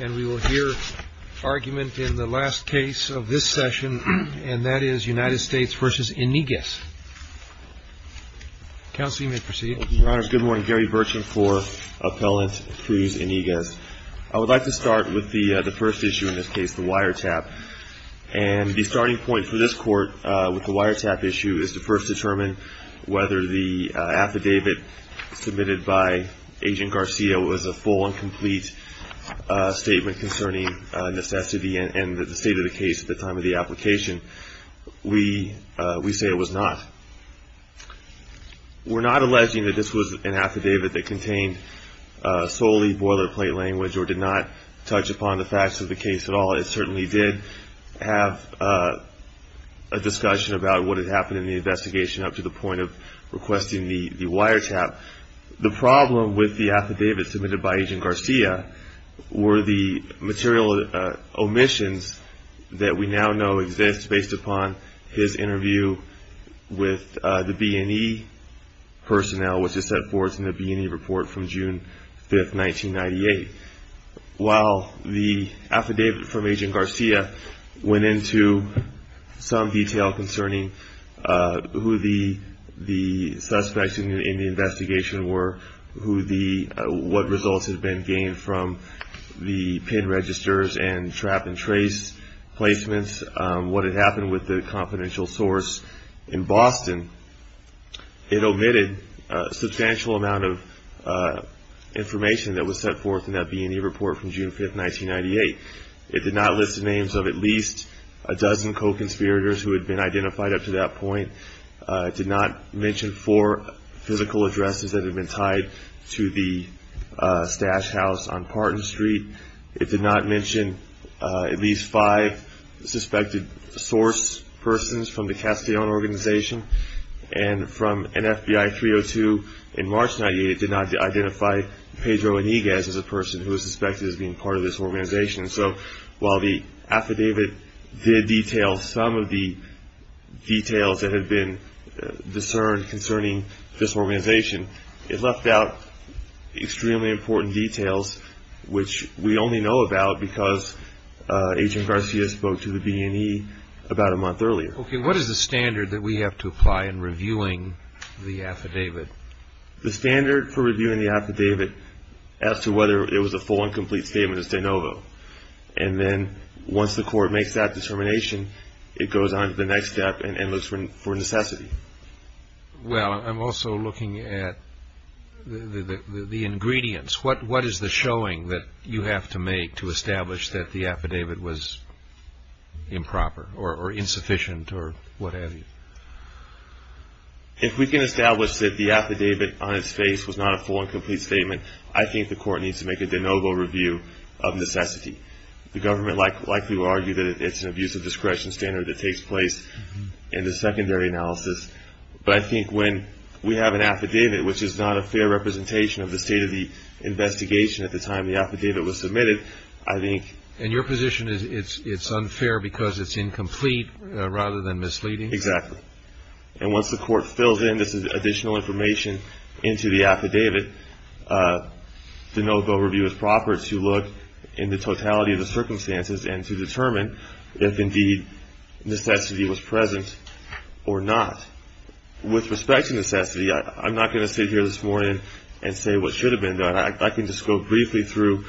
And we will hear argument in the last case of this session, and that is United States v. Iniguez. Counsel, you may proceed. Your Honors, good morning. Gary Burcham for Appellant Cruz Iniguez. I would like to start with the first issue in this case, the wiretap. And the starting point for this court with the wiretap issue is to first determine whether the affidavit submitted by Agent Garcia was a full and complete statement concerning necessity and the state of the case at the time of the application. We say it was not. We're not alleging that this was an affidavit that contained solely boilerplate language or did not touch upon the facts of the case at all. It certainly did have a discussion about what had happened in the investigation up to the point of requesting the wiretap. The problem with the affidavit submitted by Agent Garcia were the material omissions that we now know exist based upon his interview with the B&E personnel, which is set forth in the B&E report from June 5, 1998. While the affidavit from Agent Garcia went into some detail concerning who the suspects in the investigation were, what results had been gained from the PIN registers and trap and trace placements, what had happened with the confidential source in Boston, it omitted a substantial amount of information that was set forth in that B&E report from June 5, 1998. It did not list the names of at least a dozen co-conspirators who had been identified up to that point. It did not mention four physical addresses that had been tied to the stash house on Parton Street. It did not mention at least five suspected source persons from the Castellan organization. And from NFBI 302 in March 1998, it did not identify Pedro Iniguez as a person who was suspected of being part of this organization. So while the affidavit did detail some of the details that had been discerned concerning this organization, it left out extremely important details which we only know about because Agent Garcia spoke to the B&E about a month earlier. Okay, what is the standard that we have to apply in reviewing the affidavit? The standard for reviewing the affidavit as to whether it was a full and complete statement is de novo. And then once the court makes that determination, it goes on to the next step and looks for necessity. Well, I'm also looking at the ingredients. What is the showing that you have to make to establish that the affidavit was improper or insufficient or what have you? If we can establish that the affidavit on its face was not a full and complete statement, I think the court needs to make a de novo review of necessity. The government likely will argue that it's an abuse of discretion standard that takes place in the secondary analysis. But I think when we have an affidavit which is not a fair representation of the state of the investigation at the time the affidavit was submitted, I think... And your position is it's unfair because it's incomplete rather than misleading? Exactly. And once the court fills in this additional information into the affidavit, the de novo review is proper to look in the totality of the circumstances and to determine if indeed necessity was present or not. With respect to necessity, I'm not going to sit here this morning and say what should have been done. I can just go briefly through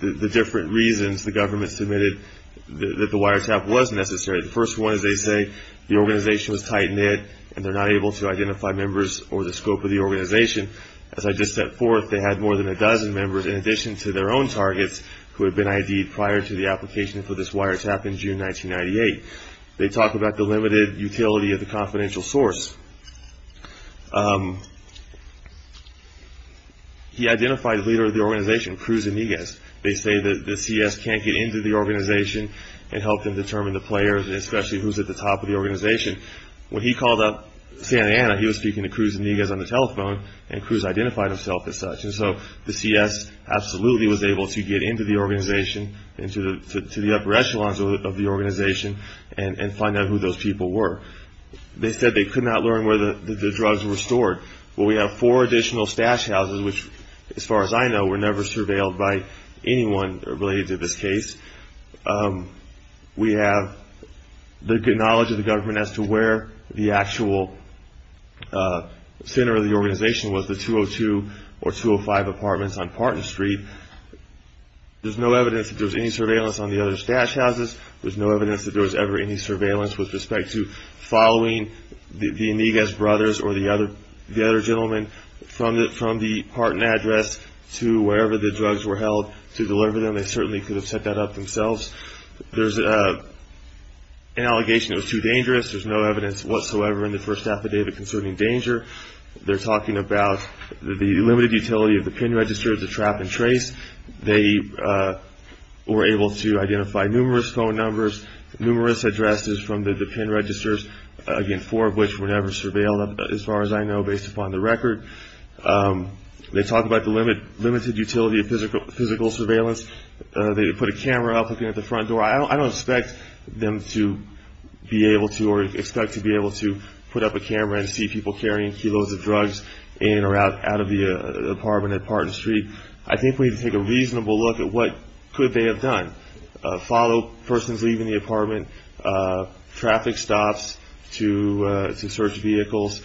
the different reasons the government submitted that the wiretap was necessary. The first one is they say the organization was tight-knit and they're not able to identify members or the scope of the organization. As I just stepped forth, they had more than a dozen members in addition to their own targets who had been ID'd prior to the application for this wiretap in June 1998. They talk about the limited utility of the confidential source. He identified the leader of the organization, Cruz Amigas. They say that the CS can't get into the organization and help them determine the players and especially who's at the top of the organization. When he called up Santa Ana, he was speaking to Cruz Amigas on the telephone, and Cruz identified himself as such. And so the CS absolutely was able to get into the organization and to the upper echelons of the organization and find out who those people were. They said they could not learn where the drugs were stored. Well, we have four additional stash houses which, as far as I know, were never surveilled by anyone related to this case. We have the knowledge of the government as to where the actual center of the organization was, the 202 or 205 apartments on Parton Street. There's no evidence that there was any surveillance on the other stash houses. There's no evidence that there was ever any surveillance with respect to following the Amigas brothers or the other gentleman from the Parton address to wherever the drugs were held to deliver them. They certainly could have set that up themselves. There's an allegation it was too dangerous. There's no evidence whatsoever in the first affidavit concerning danger. They're talking about the limited utility of the PIN register as a trap and trace. They were able to identify numerous phone numbers, numerous addresses from the PIN registers, again, four of which were never surveilled, as far as I know, based upon the record. They talk about the limited utility of physical surveillance. They put a camera up looking at the front door. I don't expect them to be able to or expect to be able to put up a camera and see people carrying kilos of drugs in or out of the apartment at Parton Street. I think we need to take a reasonable look at what could they have done, follow persons leaving the apartment, traffic stops to search vehicles.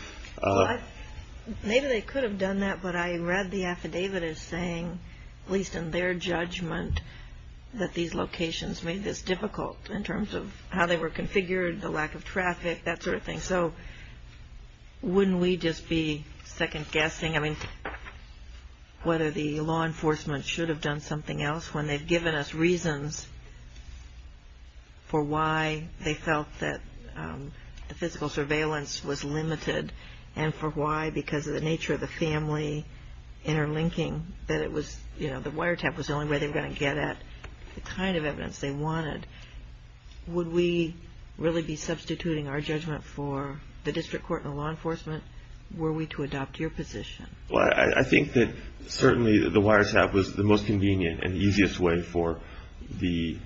Maybe they could have done that, but I read the affidavit as saying, at least in their judgment, that these locations made this difficult in terms of how they were configured, the lack of traffic, that sort of thing. So wouldn't we just be second-guessing, I mean, whether the law enforcement should have done something else when they've given us reasons for why they felt that the physical surveillance was limited and for why, because of the nature of the family interlinking, that it was, you know, the wiretap was the only way they were going to get at the kind of evidence they wanted. Would we really be substituting our judgment for the district court and the law enforcement? Were we to adopt your position? Well, I think that certainly the wiretap was the most convenient and easiest way for the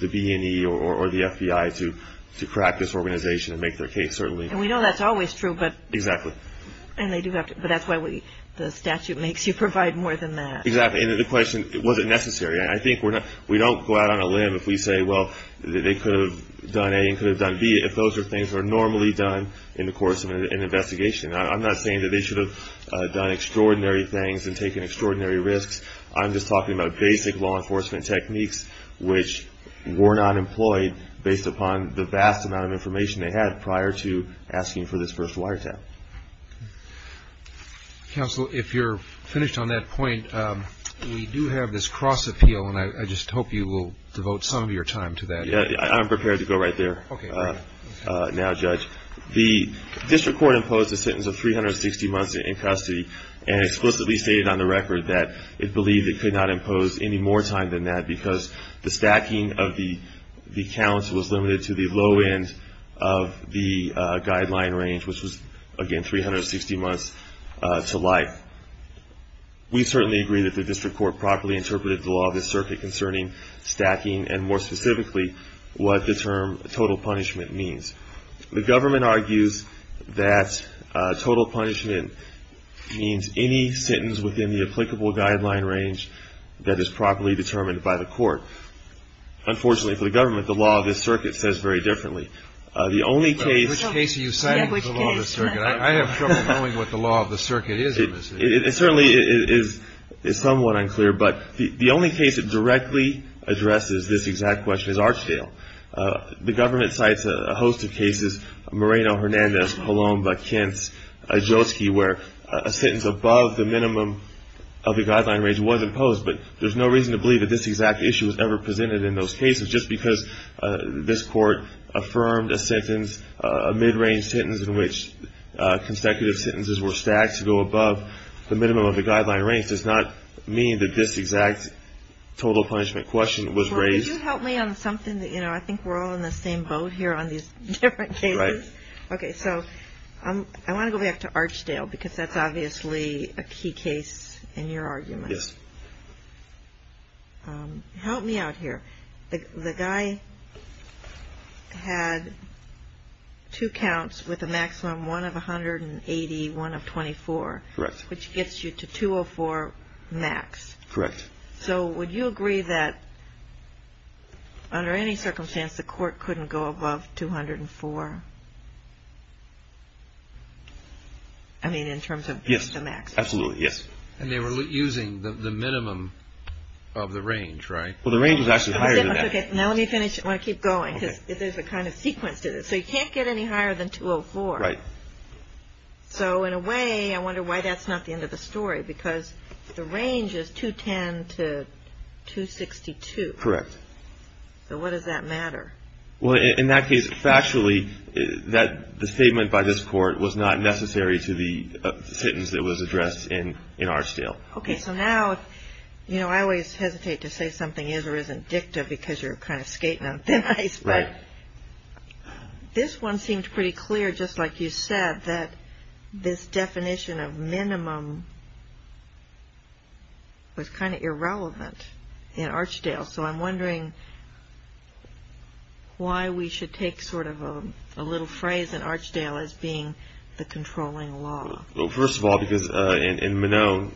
B&E or the FBI to crack this organization and make their case, certainly. And we know that's always true, but. Exactly. And they do have to, but that's why the statute makes you provide more than that. Exactly, and the question, was it necessary? I think we don't go out on a limb if we say, well, they could have done A and could have done B, if those are things that are normally done in the course of an investigation. I'm not saying that they should have done extraordinary things and taken extraordinary risks. I'm just talking about basic law enforcement techniques, which were not employed based upon the vast amount of information they had prior to asking for this first wiretap. Counsel, if you're finished on that point, we do have this cross-appeal, and I just hope you will devote some of your time to that. I'm prepared to go right there now, Judge. The district court imposed a sentence of 360 months in custody and explicitly stated on the record that it believed it could not impose any more time than that because the stacking of the counts was limited to the low end of the guideline range, which was, again, 360 months to life. We certainly agree that the district court properly interpreted the law of the circuit concerning stacking and, more specifically, what the term total punishment means. The government argues that total punishment means any sentence within the applicable guideline range that is properly determined by the court. Unfortunately for the government, the law of the circuit says very differently. The only case you cite in the law of the circuit, I have trouble knowing what the law of the circuit is. It certainly is somewhat unclear, but the only case that directly addresses this exact question is Archdale. The government cites a host of cases, Moreno, Hernandez, Palomba, Kintz, Jotsky, where a sentence above the minimum of the guideline range was imposed, but there's no reason to believe that this exact issue was ever presented in those cases. Just because this court affirmed a sentence, a mid-range sentence, in which consecutive sentences were stacked to go above the minimum of the guideline range, does not mean that this exact total punishment question was raised. Could you help me on something? You know, I think we're all in the same boat here on these different cases. Right. Okay, so I want to go back to Archdale because that's obviously a key case in your argument. Yes. Help me out here. The guy had two counts with a maximum one of 180, one of 24. Correct. Which gets you to 204 max. Correct. So would you agree that under any circumstance the court couldn't go above 204? I mean in terms of the maximum. Absolutely, yes. And they were using the minimum of the range, right? Well, the range was actually higher than that. Okay, now let me finish. I want to keep going because there's a kind of sequence to this. So you can't get any higher than 204. Right. So in a way, I wonder why that's not the end of the story because the range is 210 to 262. Correct. So what does that matter? Well, in that case, factually, the statement by this court was not necessary to the sentence that was addressed in Archdale. Okay, so now, you know, I always hesitate to say something is or isn't dicta because you're kind of skating on thin ice. Right. This one seemed pretty clear, just like you said, that this definition of minimum was kind of irrelevant in Archdale. So I'm wondering why we should take sort of a little phrase in Archdale as being the controlling law. Well, first of all, because in Minone,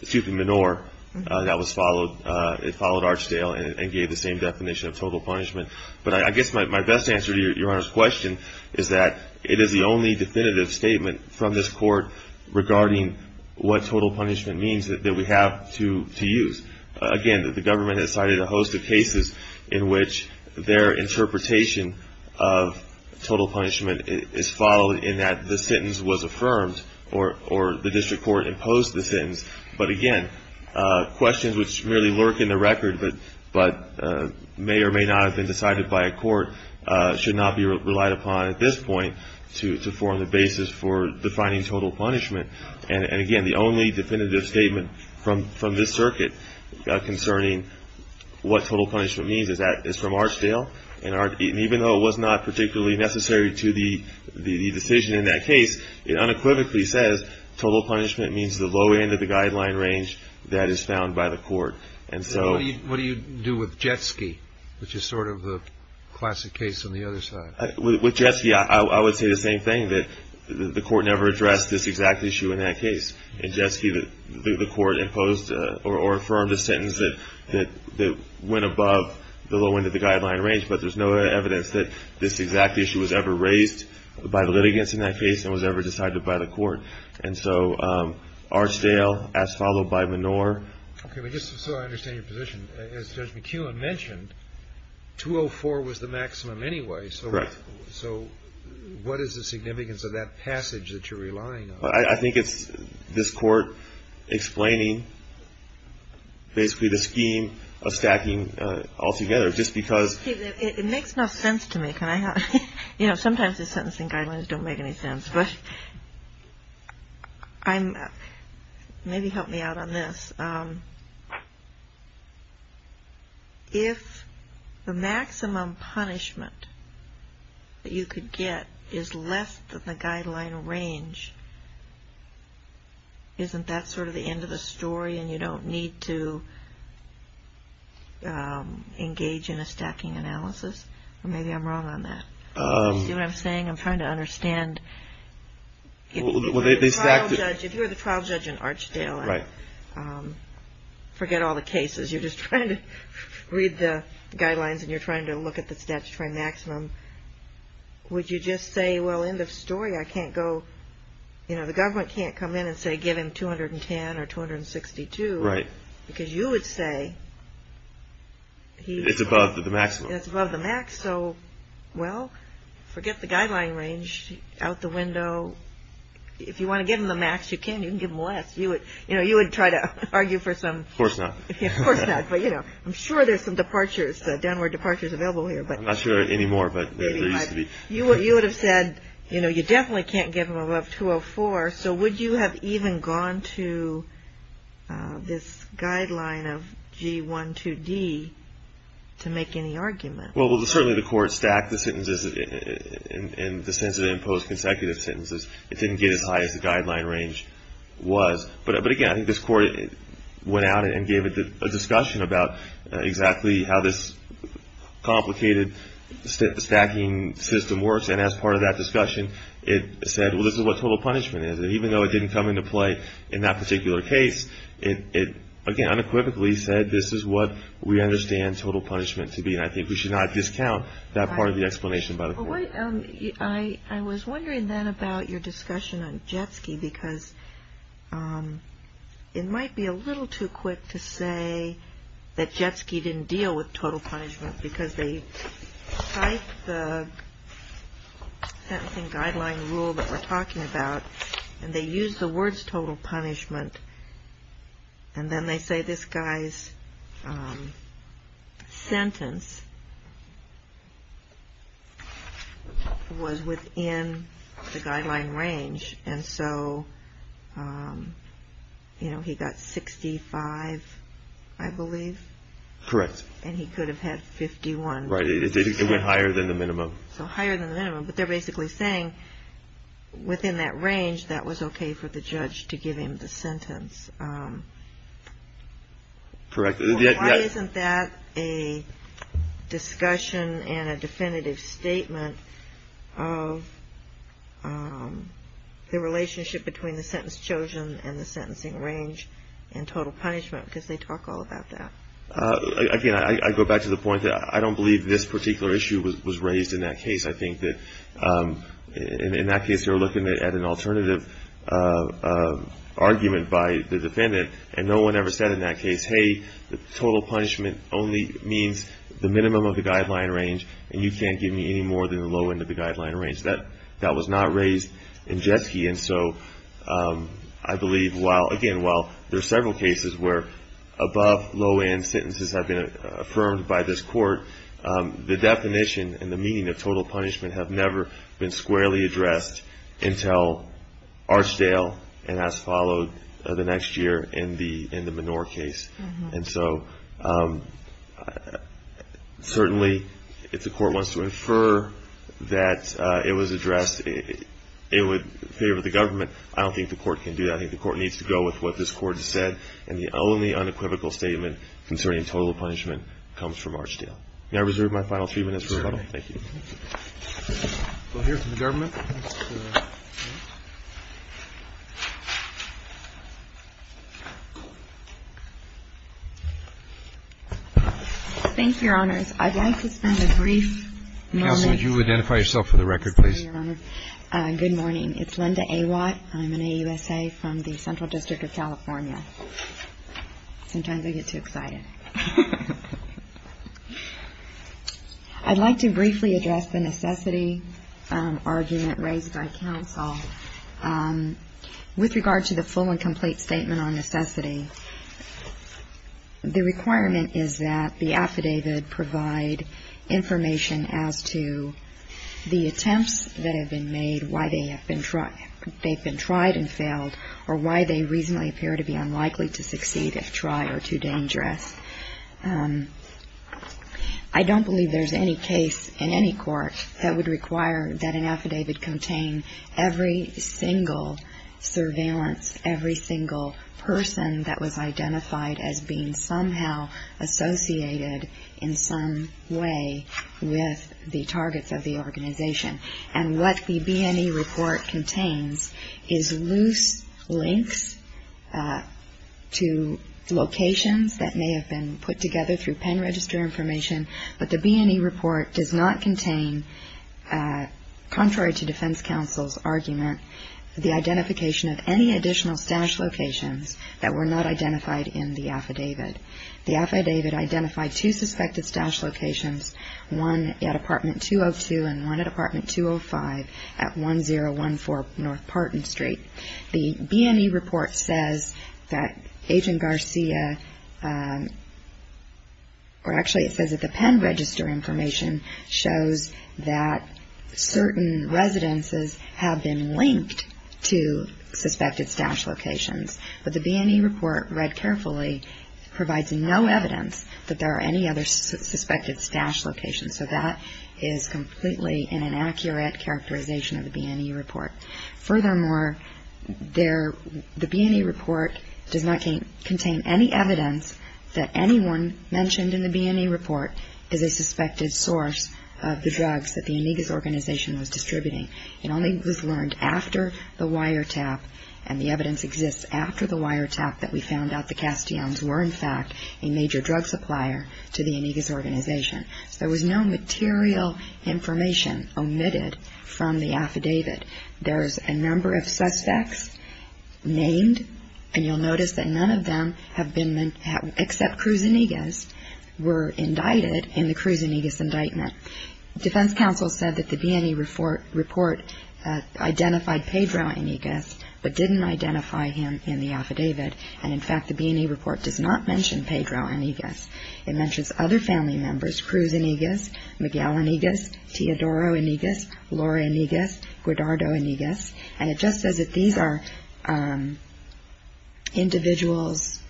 excuse me, Minore, that was followed. It followed Archdale and gave the same definition of total punishment. But I guess my best answer to Your Honor's question is that it is the only definitive statement from this court regarding what total punishment means that we have to use. Again, the government has cited a host of cases in which their interpretation of total punishment is followed in that the sentence was affirmed or the district court imposed the sentence. But again, questions which merely lurk in the record, but may or may not have been decided by a court, should not be relied upon at this point to form the basis for defining total punishment. And again, the only definitive statement from this circuit concerning what total punishment means is from Archdale. And even though it was not particularly necessary to the decision in that case, it unequivocally says total punishment means the low end of the guideline range that is found by the court. So what do you do with Jetski, which is sort of the classic case on the other side? With Jetski, I would say the same thing, that the court never addressed this exact issue in that case. In Jetski, the court imposed or affirmed a sentence that went above the low end of the guideline range, but there's no evidence that this exact issue was ever raised by the litigants in that case and was ever decided by the court. And so Archdale, as followed by Menor. Okay, but just so I understand your position, as Judge McKeown mentioned, 204 was the maximum anyway. Correct. So what is the significance of that passage that you're relying on? I think it's this court explaining basically the scheme of stacking altogether just because. It makes no sense to me. You know, sometimes the sentencing guidelines don't make any sense, but maybe help me out on this. If the maximum punishment that you could get is less than the guideline range, isn't that sort of the end of the story and you don't need to engage in a stacking analysis? Maybe I'm wrong on that. Do you see what I'm saying? I'm trying to understand. If you were the trial judge in Archdale, forget all the cases. You're just trying to read the guidelines and you're trying to look at the statutory maximum. Would you just say, well, end of story, I can't go, you know, the government can't come in and say give him 210 or 262. Right. Because you would say. It's above the maximum. It's above the max. So, well, forget the guideline range out the window. If you want to give them the max, you can. You can give them less. You know, you would try to argue for some. Of course not. Of course not. But, you know, I'm sure there's some departures, downward departures available here. I'm not sure anymore, but there used to be. You would have said, you know, you definitely can't give them above 204. So would you have even gone to this guideline of G12D to make any argument? Well, certainly the court stacked the sentences and the sensitive and post-consecutive sentences. It didn't get as high as the guideline range was. But, again, I think this court went out and gave it a discussion about exactly how this complicated stacking system works. And as part of that discussion, it said, well, this is what total punishment is. And even though it didn't come into play in that particular case, it, again, unequivocally said, this is what we understand total punishment to be. And I think we should not discount that part of the explanation by the court. I was wondering, then, about your discussion on Jetski, because it might be a little too quick to say that Jetski didn't deal with total punishment because they typed the sentencing guideline rule that we're talking about, and they used the words total punishment, and then they say this guy's sentence was within the guideline range. And so, you know, he got 65, I believe. Correct. And he could have had 51. Right. It went higher than the minimum. So higher than the minimum. But they're basically saying within that range, that was okay for the judge to give him the sentence. Correct. Why isn't that a discussion and a definitive statement of the relationship between the sentence chosen and the sentencing range and total punishment, because they talk all about that. Again, I go back to the point that I don't believe this particular issue was raised in that case. I think that in that case, they were looking at an alternative argument by the defendant, and no one ever said in that case, hey, the total punishment only means the minimum of the guideline range, and you can't give me any more than the low end of the guideline range. That was not raised in Jetski. And so I believe, again, while there are several cases where above low end sentences have been affirmed by this court, the definition and the meaning of total punishment have never been squarely addressed until Archdale and has followed the next year in the Menor case. And so certainly if the court wants to infer that it was addressed, it would favor the government, I don't think the court can do that. I think the court needs to go with what this court has said, and the only unequivocal statement concerning total punishment comes from Archdale. May I reserve my final three minutes for rebuttal? Thank you. We'll hear from the government. Thank you, Your Honors. I'd like to spend a brief moment. Counsel, would you identify yourself for the record, please? Good morning. It's Linda Awatt. I'm an AUSA from the Central District of California. Sometimes I get too excited. I'd like to briefly address the necessity argument raised by counsel. With regard to the full and complete statement on necessity, the requirement is that the affidavit provide information as to the attempts that have been made, why they've been tried and failed, or why they reasonably appear to be unlikely to succeed if tried or too dangerous. I don't believe there's any case in any court that would require that an affidavit contain every single surveillance, every single person that was identified as being somehow associated in some way with the targets of the organization. And what the B&E report contains is loose links to locations that may have been put together through pen register information, but the B&E report does not contain, contrary to defense counsel's argument, the identification of any additional stash locations that were not identified in the affidavit. The affidavit identified two suspected stash locations, one at Apartment 202 and one at Apartment 205 at 1014 North Parton Street. The B&E report says that Agent Garcia, or actually it says that the pen register information shows that certain residences have been linked to suspected stash locations, but the B&E report read carefully provides no evidence that there are any other suspected stash locations. So that is completely an inaccurate characterization of the B&E report. Furthermore, the B&E report does not contain any evidence that anyone mentioned in the B&E report is a suspected source of the drugs that the Amigas organization was distributing. It only was learned after the wiretap, and the evidence exists after the wiretap, that we found out the Castellanos were in fact a major drug supplier to the Amigas organization. So there was no material information omitted from the affidavit. There's a number of suspects named, and you'll notice that none of them have been, except Cruz Amigas, were indicted in the Cruz Amigas indictment. Defense counsel said that the B&E report identified Pedro Amigas, but didn't identify him in the affidavit, and in fact the B&E report does not mention Pedro Amigas. It mentions other family members, Cruz Amigas, Miguel Amigas, Teodoro Amigas, Laura Amigas, Gerdardo Amigas, and it just says that these individuals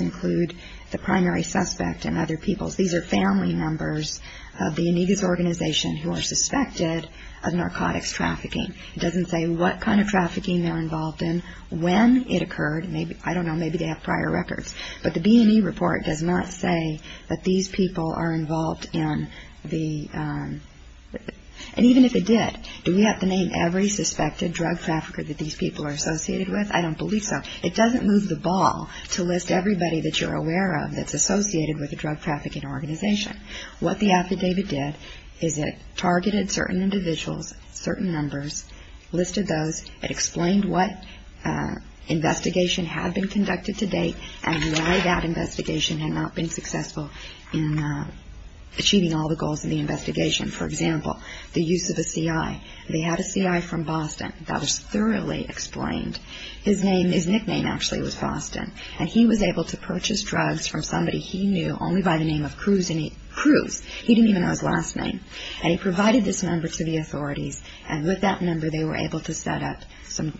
include the primary suspect and other people. These are family members of the Amigas organization who are suspected of narcotics trafficking. It doesn't say what kind of trafficking they're involved in, when it occurred. I don't know, maybe they have prior records. But the B&E report does not say that these people are involved in the, and even if it did, do we have to name every suspected drug trafficker that these people are associated with? I don't believe so. It doesn't move the ball to list everybody that you're aware of that's associated with a drug trafficking organization. What the affidavit did is it targeted certain individuals, certain numbers, listed those, it explained what investigation had been conducted to date and why that investigation had not been successful in achieving all the goals in the investigation. For example, the use of a C.I. They had a C.I. from Boston that was thoroughly explained. His name, his nickname actually was Boston, and he was able to purchase drugs from somebody he knew only by the name of Cruz, he didn't even know his last name, and he provided this number to the authorities, and with that number they were able to set up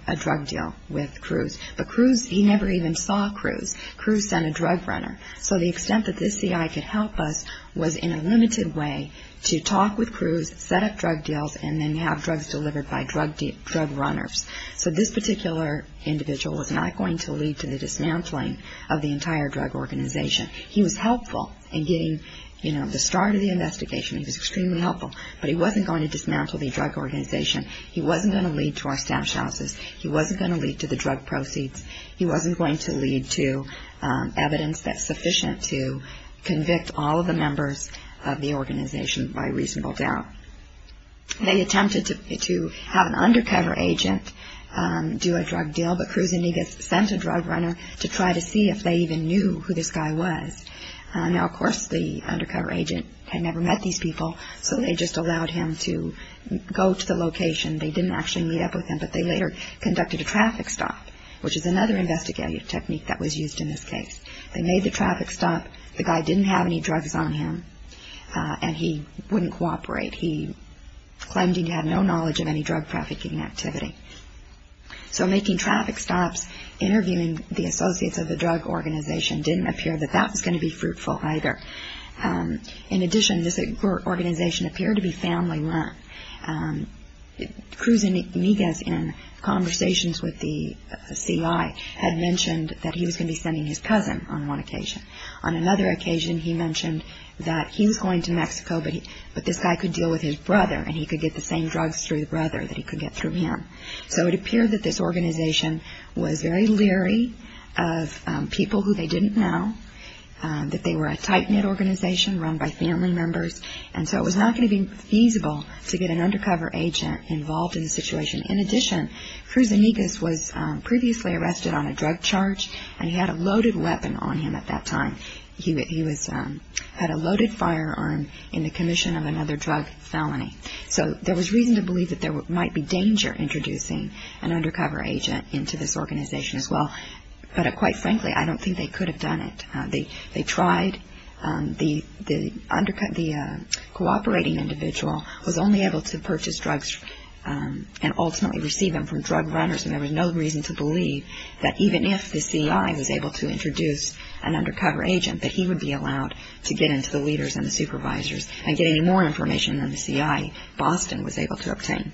a drug deal with Cruz. But Cruz, he never even saw Cruz. Cruz sent a drug runner. So the extent that this C.I. could help us was in a limited way to talk with Cruz, set up drug deals, and then have drugs delivered by drug runners. So this particular individual was not going to lead to the dismantling of the entire drug organization. He was helpful in getting, you know, the start of the investigation. He was extremely helpful, but he wasn't going to dismantle the drug organization. He wasn't going to lead to our stash houses. He wasn't going to lead to the drug proceeds. He wasn't going to lead to evidence that's sufficient to convict all of the members of the organization by reasonable doubt. They attempted to have an undercover agent do a drug deal, but Cruz Indigas sent a drug runner to try to see if they even knew who this guy was. Now, of course, the undercover agent had never met these people, so they just allowed him to go to the location. They didn't actually meet up with him, but they later conducted a traffic stop, which is another investigative technique that was used in this case. They made the traffic stop. The guy didn't have any drugs on him, and he wouldn't cooperate. He claimed he had no knowledge of any drug trafficking activity. So making traffic stops, interviewing the associates of the drug organization, didn't appear that that was going to be fruitful either. In addition, this organization appeared to be family-run. Cruz Indigas, in conversations with the C.I., had mentioned that he was going to be sending his cousin on one occasion. On another occasion, he mentioned that he was going to Mexico, but this guy could deal with his brother, and he could get the same drugs through the brother that he could get through him. So it appeared that this organization was very leery of people who they didn't know, that they were a tight-knit organization run by family members, and so it was not going to be feasible to get an undercover agent involved in the situation. In addition, Cruz Indigas was previously arrested on a drug charge, and he had a loaded weapon on him at that time. He had a loaded firearm in the commission of another drug felony. So there was reason to believe that there might be danger introducing an undercover agent into this organization as well, but quite frankly, I don't think they could have done it. They tried. The cooperating individual was only able to purchase drugs and ultimately receive them from drug runners, and there was no reason to believe that even if the C.I. was able to introduce an undercover agent, that he would be allowed to get into the leaders and the supervisors and get any more information than the C.I. Boston was able to obtain.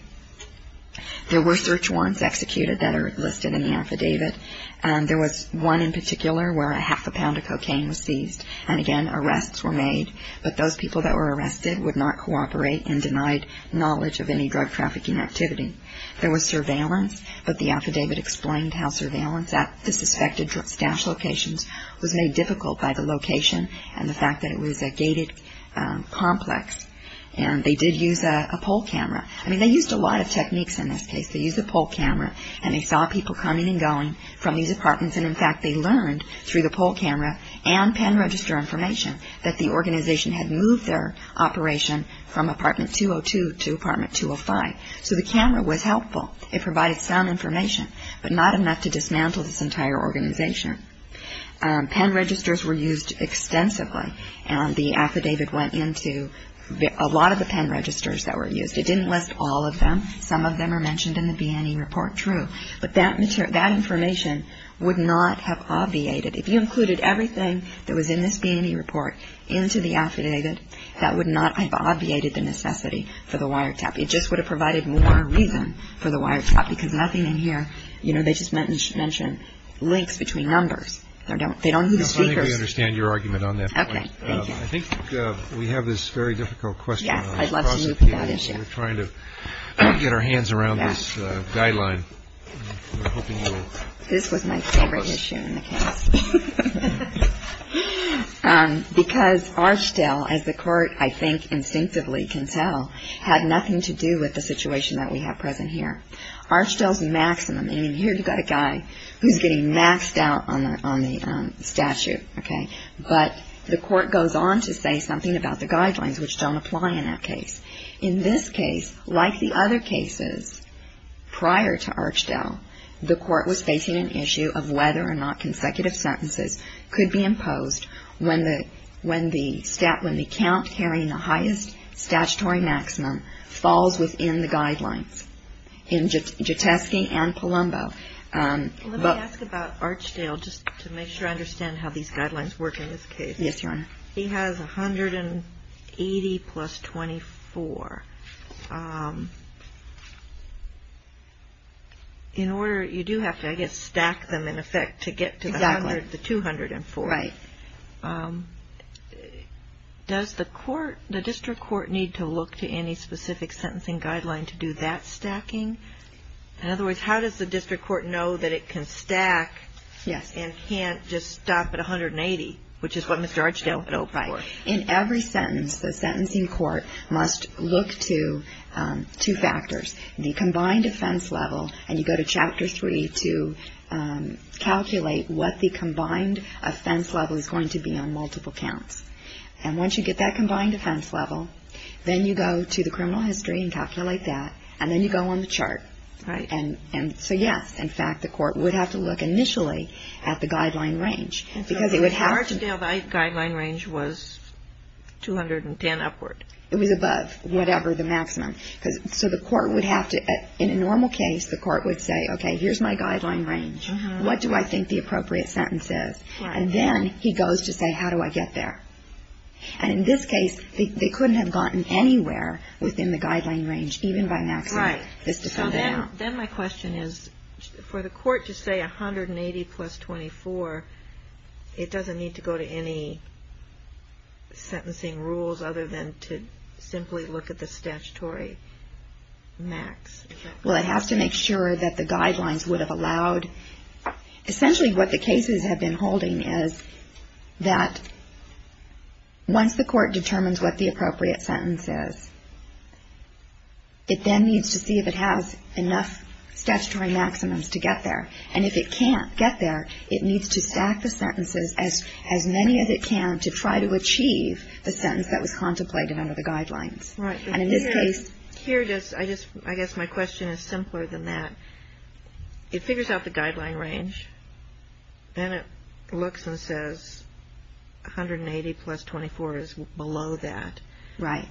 There were search warrants executed that are listed in the affidavit, and there was one in particular where a half a pound of cocaine was seized, and again, arrests were made, but those people that were arrested would not cooperate and denied knowledge of any drug trafficking activity. There was surveillance, but the affidavit explained how surveillance at the suspected stash locations was made difficult by the location and the fact that it was a gated complex, and they did use a poll camera. I mean, they used a lot of techniques in this case. They used a poll camera, and they saw people coming and going from these apartments, and in fact, they learned through the poll camera and pen register information that the organization had moved their operation from apartment 202 to apartment 205. So the camera was helpful. It provided some information, but not enough to dismantle this entire organization. Pen registers were used extensively, and the affidavit went into a lot of the pen registers that were used. It didn't list all of them. Some of them are mentioned in the B&E report, true, but that information would not have obviated. If you included everything that was in this B&E report into the affidavit, that would not have obviated the necessity for the wiretap. It just would have provided more reason for the wiretap because nothing in here, you know, they just mention links between numbers. They don't use speakers. I think we understand your argument on that point. Okay, thank you. I think we have this very difficult question. Yes, I'd love to move to that issue. We're trying to get our hands around this guideline. This was my favorite issue in the case. Because Archdell, as the court, I think, instinctively can tell, had nothing to do with the situation that we have present here. Archdell's maximum, I mean, here you've got a guy who's getting maxed out on the statute, okay, but the court goes on to say something about the guidelines, which don't apply in that case. In this case, like the other cases prior to Archdell, the court was facing an issue of whether or not consecutive sentences could be imposed when the count carrying the highest statutory maximum falls within the guidelines in Jateski and Palumbo. Let me ask about Archdell just to make sure I understand how these guidelines work in this case. Yes, Your Honor. He has 180 plus 24. In order, you do have to, I guess, stack them in effect to get to the 204. Right. Does the court, the district court, need to look to any specific sentencing guideline to do that stacking? In other words, how does the district court know that it can stack and can't just stop at 180, which is what Mr. Archdell had hoped for? Right. In every sentence, the sentencing court must look to two factors, the combined offense level, and you go to Chapter 3 to calculate what the combined offense level is going to be on multiple counts. And once you get that combined offense level, then you go to the criminal history and calculate that, and then you go on the chart. Right. And so, yes, in fact, the court would have to look initially at the guideline range because it would have to So Mr. Archdell, the guideline range was 210 upward. It was above whatever the maximum. So the court would have to, in a normal case, the court would say, okay, here's my guideline range. What do I think the appropriate sentence is? Right. And then he goes to say, how do I get there? And in this case, they couldn't have gotten anywhere within the guideline range, even by maximum. Right. Just to fill that out. So then my question is, for the court to say 180 plus 24, it doesn't need to go to any sentencing rules other than to simply look at the statutory max? Well, it has to make sure that the guidelines would have allowed Essentially what the cases have been holding is that once the court determines what the appropriate sentence is, it then needs to see if it has enough statutory maximums to get there. And if it can't get there, it needs to stack the sentences as many as it can to try to achieve the sentence that was contemplated under the guidelines. Right. And in this case Here, I guess my question is simpler than that. It figures out the guideline range. Then it looks and says 180 plus 24 is below that. Right.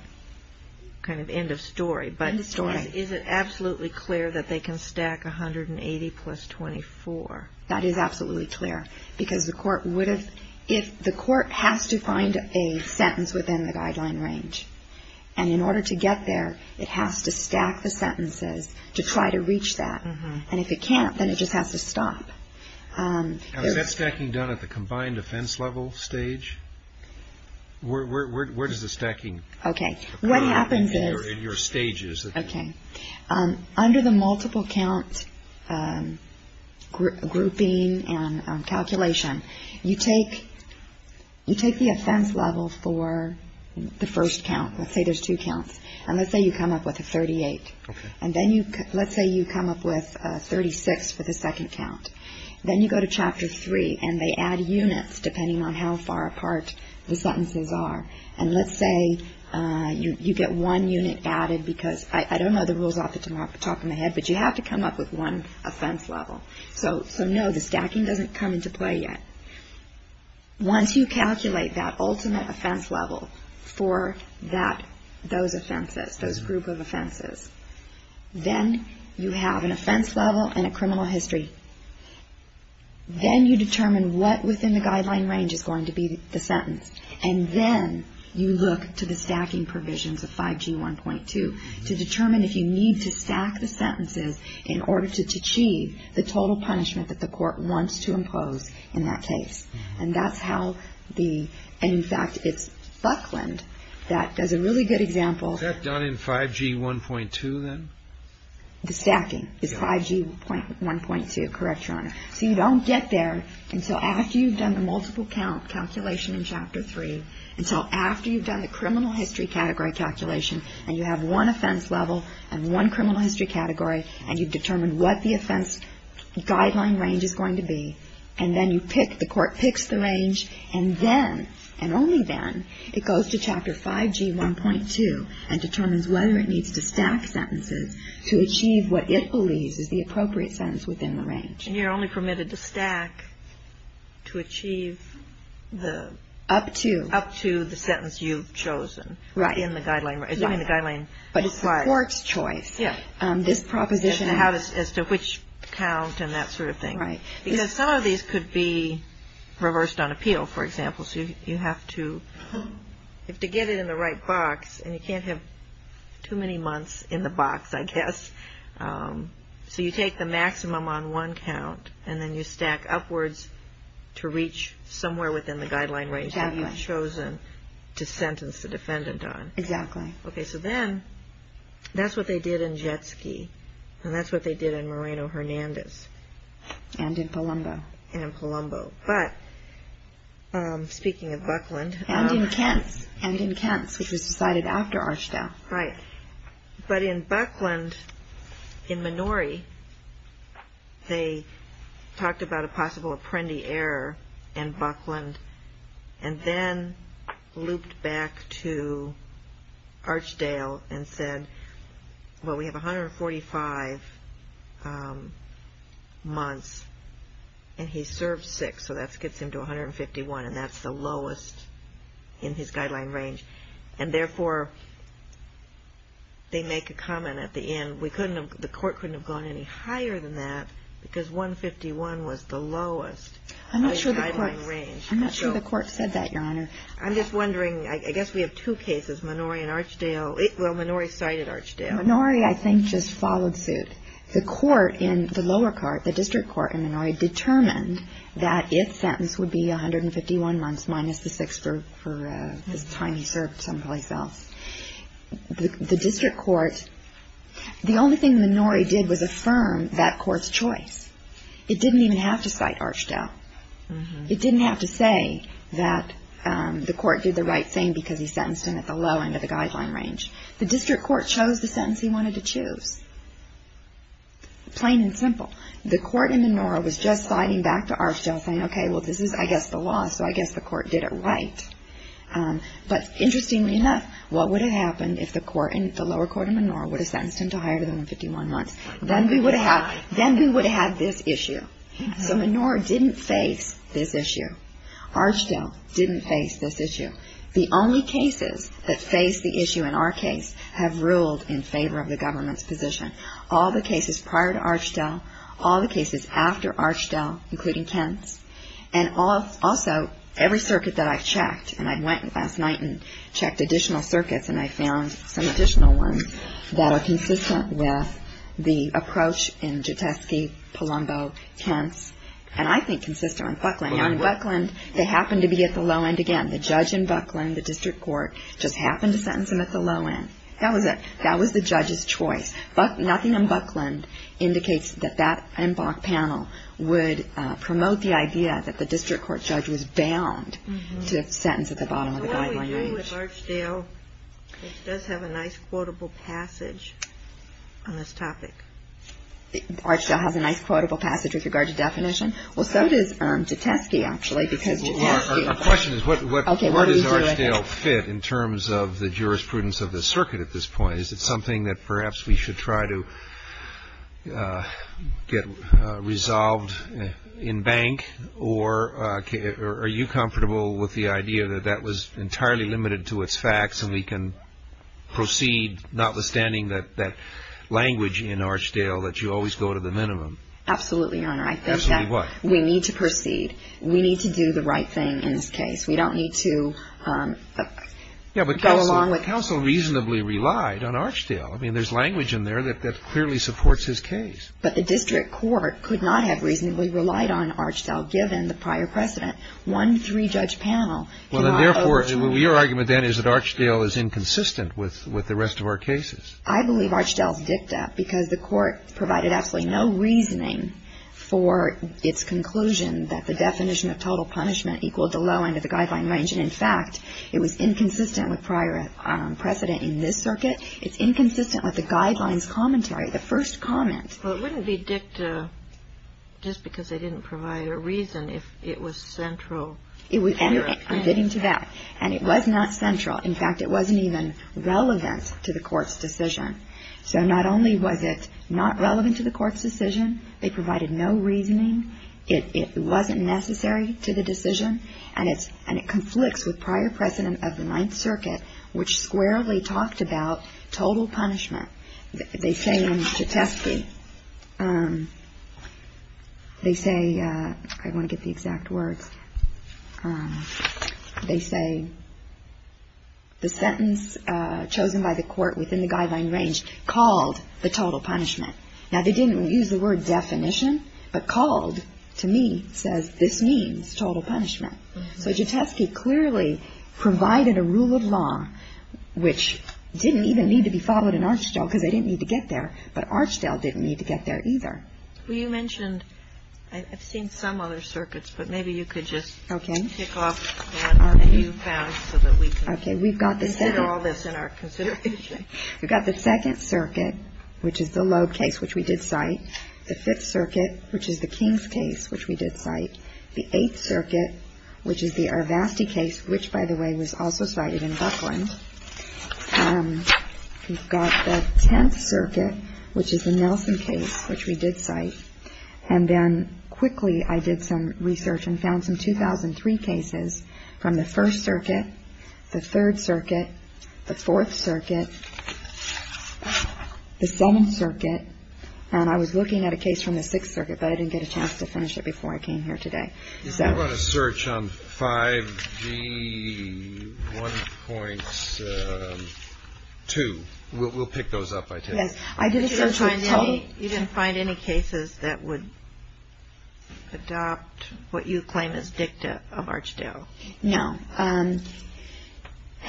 Kind of end of story. End of story. But is it absolutely clear that they can stack 180 plus 24? That is absolutely clear, because the court would have If the court has to find a sentence within the guideline range, and in order to get there, it has to stack the sentences to try to reach that. And if it can't, then it just has to stop. Where does the stacking Okay. What happens is In your stages Okay. Under the multiple count grouping and calculation, you take the offense level for the first count. Let's say there's two counts. And let's say you come up with a 38. Okay. And let's say you come up with a 36 for the second count. Then you go to Chapter 3, and they add units depending on how far apart the sentences are. And let's say you get one unit added, because I don't know the rules off the top of my head, but you have to come up with one offense level. So no, the stacking doesn't come into play yet. Once you calculate that ultimate offense level for those offenses, those group of offenses, then you have an offense level and a criminal history. Then you determine what within the guideline range is going to be the sentence. And then you look to the stacking provisions of 5G1.2 to determine if you need to stack the sentences in order to achieve the total punishment that the court wants to impose in that case. And that's how the And, in fact, it's Buckland that does a really good example. Is that done in 5G1.2 then? The stacking is 5G1.2. Correct, Your Honor. So you don't get there until after you've done the multiple count calculation in Chapter 3, until after you've done the criminal history category calculation, and you have one offense level and one criminal history category, and you've determined what the offense guideline range is going to be, and then you pick, the court picks the range, and then, and only then, it goes to Chapter 5G1.2 and determines whether it needs to stack sentences to achieve what it believes is the appropriate sentence within the range. And you're only permitted to stack to achieve the Up to Up to the sentence you've chosen. Right. In the guideline. But it's the court's choice. Yeah. This proposition As to which count and that sort of thing. Right. Because some of these could be reversed on appeal, for example. So you have to get it in the right box, and you can't have too many months in the box, I guess. So you take the maximum on one count, and then you stack upwards to reach somewhere within the guideline range that you've chosen to sentence the defendant on. Exactly. Okay, so then, that's what they did in Jetski, and that's what they did in Moreno-Hernandez. And in Palumbo. And in Palumbo. But, speaking of Buckland. And in Kentz. And in Kentz, which was decided after Archdell. Right. But in Buckland, in Minori, they talked about a possible apprendi error in Buckland, and then looped back to Archdell and said, well, we have 145 months, and he served six. So that gets him to 151, and that's the lowest in his guideline range. And therefore, they make a comment at the end, the court couldn't have gone any higher than that because 151 was the lowest. I'm not sure the court said that, Your Honor. I'm just wondering, I guess we have two cases, Minori and Archdell. Well, Minori cited Archdell. Minori, I think, just followed suit. The court in the lower court, the district court in Minori, that if sentence would be 151 months minus the six for the time he served someplace else. The district court, the only thing Minori did was affirm that court's choice. It didn't even have to cite Archdell. It didn't have to say that the court did the right thing because he sentenced him at the low end of the guideline range. The district court chose the sentence he wanted to choose. Plain and simple. The court in Minori was just citing back to Archdell saying, okay, well, this is, I guess, the law, so I guess the court did it right. But interestingly enough, what would have happened if the lower court in Minori would have sentenced him to higher than 151 months? Then we would have had this issue. So Minori didn't face this issue. Archdell didn't face this issue. The only cases that face the issue in our case have ruled in favor of the government's position. All the cases prior to Archdell, all the cases after Archdell, including Kent's, and also every circuit that I've checked, and I went last night and checked additional circuits and I found some additional ones that are consistent with the approach in Juteski, Palumbo, Kent's, and I think consistent with Buckland. Now in Buckland, they happened to be at the low end again. The judge in Buckland, the district court, just happened to sentence him at the low end. That was it. That was the judge's choice. Nothing in Buckland indicates that that panel would promote the idea that the district court judge was bound to sentence at the bottom of the guideline range. So what do we do with Archdell, which does have a nice quotable passage on this topic? Archdell has a nice quotable passage with regard to definition? Well, so does Juteski, actually, because Juteski — Our question is where does Archdell fit in terms of the jurisprudence of the circuit at this point? Is it something that perhaps we should try to get resolved in bank, or are you comfortable with the idea that that was entirely limited to its facts and we can proceed notwithstanding that language in Archdell that you always go to the minimum? Absolutely, Your Honor. Absolutely what? I think that we need to proceed. We need to do the right thing in this case. We don't need to go along with — Well, the counsel reasonably relied on Archdell. I mean, there's language in there that clearly supports his case. But the district court could not have reasonably relied on Archdell, given the prior precedent. One three-judge panel cannot — Well, then, therefore, your argument then is that Archdell is inconsistent with the rest of our cases. I believe Archdell's dicta, because the court provided absolutely no reasoning for its conclusion that the definition of total punishment equaled the low end of the guideline range. In fact, it was inconsistent with prior precedent in this circuit. It's inconsistent with the guidelines commentary, the first comment. Well, it wouldn't be dicta just because they didn't provide a reason if it was central. I'm getting to that. And it was not central. In fact, it wasn't even relevant to the court's decision. So not only was it not relevant to the court's decision, they provided no reasoning. It wasn't necessary to the decision. And it conflicts with prior precedent of the Ninth Circuit, which squarely talked about total punishment. They say in Chetesky — they say — I want to get the exact words. They say the sentence chosen by the court within the guideline range called the total punishment. Now, they didn't use the word definition. But called, to me, says this means total punishment. So Chetesky clearly provided a rule of law which didn't even need to be followed in Archdell because they didn't need to get there, but Archdell didn't need to get there either. Well, you mentioned — I've seen some other circuits, but maybe you could just — Okay. — tick off the ones that you found so that we can consider all this in our consideration. We've got the Second Circuit, which is the Loeb case, which we did cite. The Fifth Circuit, which is the Kings case, which we did cite. The Eighth Circuit, which is the Arvasti case, which, by the way, was also cited in Buckland. We've got the Tenth Circuit, which is the Nelson case, which we did cite. And then quickly I did some research and found some 2003 cases from the First Circuit, the Third Circuit, the Fourth Circuit, the Seventh Circuit. And I was looking at a case from the Sixth Circuit, but I didn't get a chance to finish it before I came here today. You did a lot of search on 5G1.2. We'll pick those up by today. Yes. I did a search on — You didn't find any cases that would adopt what you claim is dicta of Archdell? No.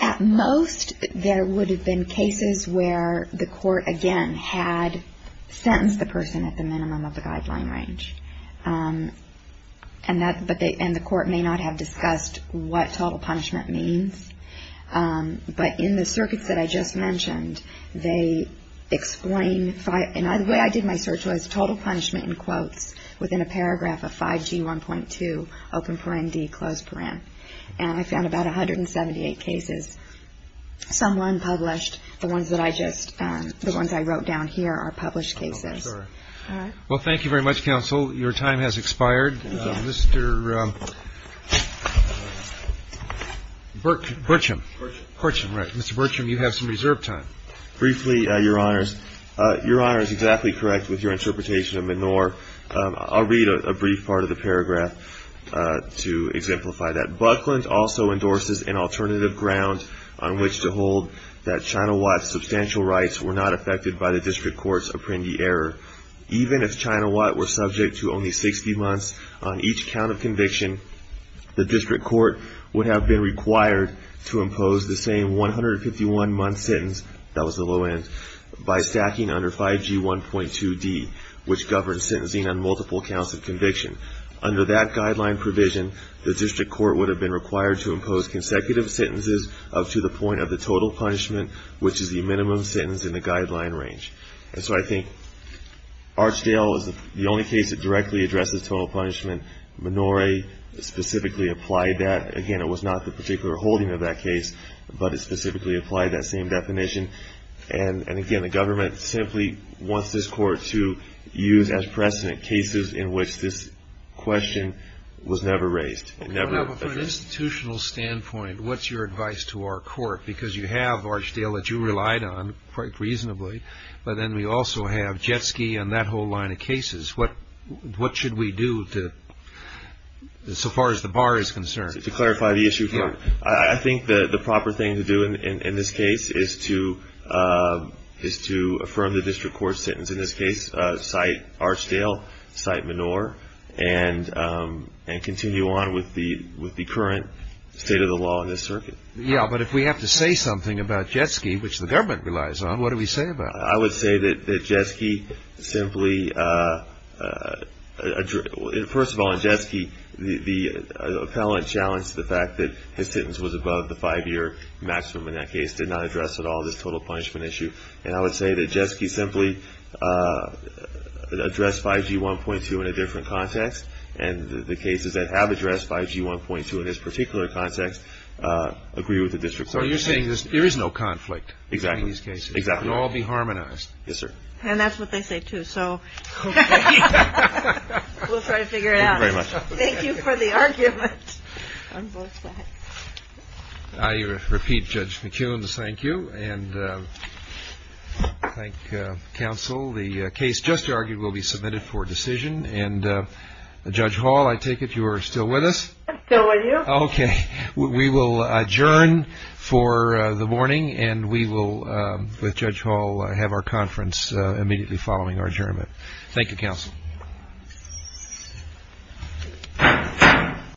At most, there would have been cases where the court, again, had sentenced the person at the minimum of the guideline range. And the court may not have discussed what total punishment means. But in the circuits that I just mentioned, they explain — And the way I did my search was total punishment in quotes within a paragraph of 5G1.2, open paren D, closed paren. And I found about 178 cases, some unpublished. The ones that I just — the ones I wrote down here are published cases. All right. Well, thank you very much, counsel. Your time has expired. Thank you. Mr. Burcham. Burcham. Burcham, right. Mr. Burcham, you have some reserved time. Briefly, Your Honors, Your Honor is exactly correct with your interpretation of Menor. I'll read a brief part of the paragraph to exemplify that. Buckland also endorses an alternative ground on which to hold that China Watt's substantial rights were not affected by the district court's Apprendi error. Even if China Watt were subject to only 60 months on each count of conviction, the district court would have been required to impose the same 151-month sentence — that was the low end — by stacking under 5G1.2D, which governs sentencing on multiple counts of conviction. Under that guideline provision, the district court would have been required to impose consecutive sentences up to the point of the total punishment, which is the minimum sentence in the guideline range. And so I think Archdale is the only case that directly addresses total punishment. Menor specifically applied that. Again, it was not the particular holding of that case, but it specifically applied that same definition. And again, the government simply wants this court to use as precedent cases in which this question was never raised. From an institutional standpoint, what's your advice to our court? Because you have Archdale that you relied on quite reasonably, but then we also have Jetski and that whole line of cases. What should we do so far as the bar is concerned? To clarify the issue here, I think the proper thing to do in this case is to affirm the district court's sentence. In this case, cite Archdale, cite Menor, and continue on with the current state of the law in this circuit. Yeah, but if we have to say something about Jetski, which the government relies on, what do we say about it? I would say that Jetski simply – first of all, in Jetski, the appellant challenged the fact that his sentence was above the five-year maximum in that case, did not address at all this total punishment issue. And I would say that Jetski simply addressed 5G 1.2 in a different context, and the cases that have addressed 5G 1.2 in this particular context agree with the district court. So you're saying there is no conflict in these cases? Exactly. They can all be harmonized. Yes, sir. And that's what they say, too. So we'll try to figure it out. Thank you very much. Thank you for the argument on both sides. I repeat Judge McEwen's thank you, and thank counsel. The case just argued will be submitted for decision, and Judge Hall, I take it you are still with us? Still with you. Okay. We will adjourn for the morning, and we will, with Judge Hall, have our conference immediately following our adjournment. Thank you, counsel.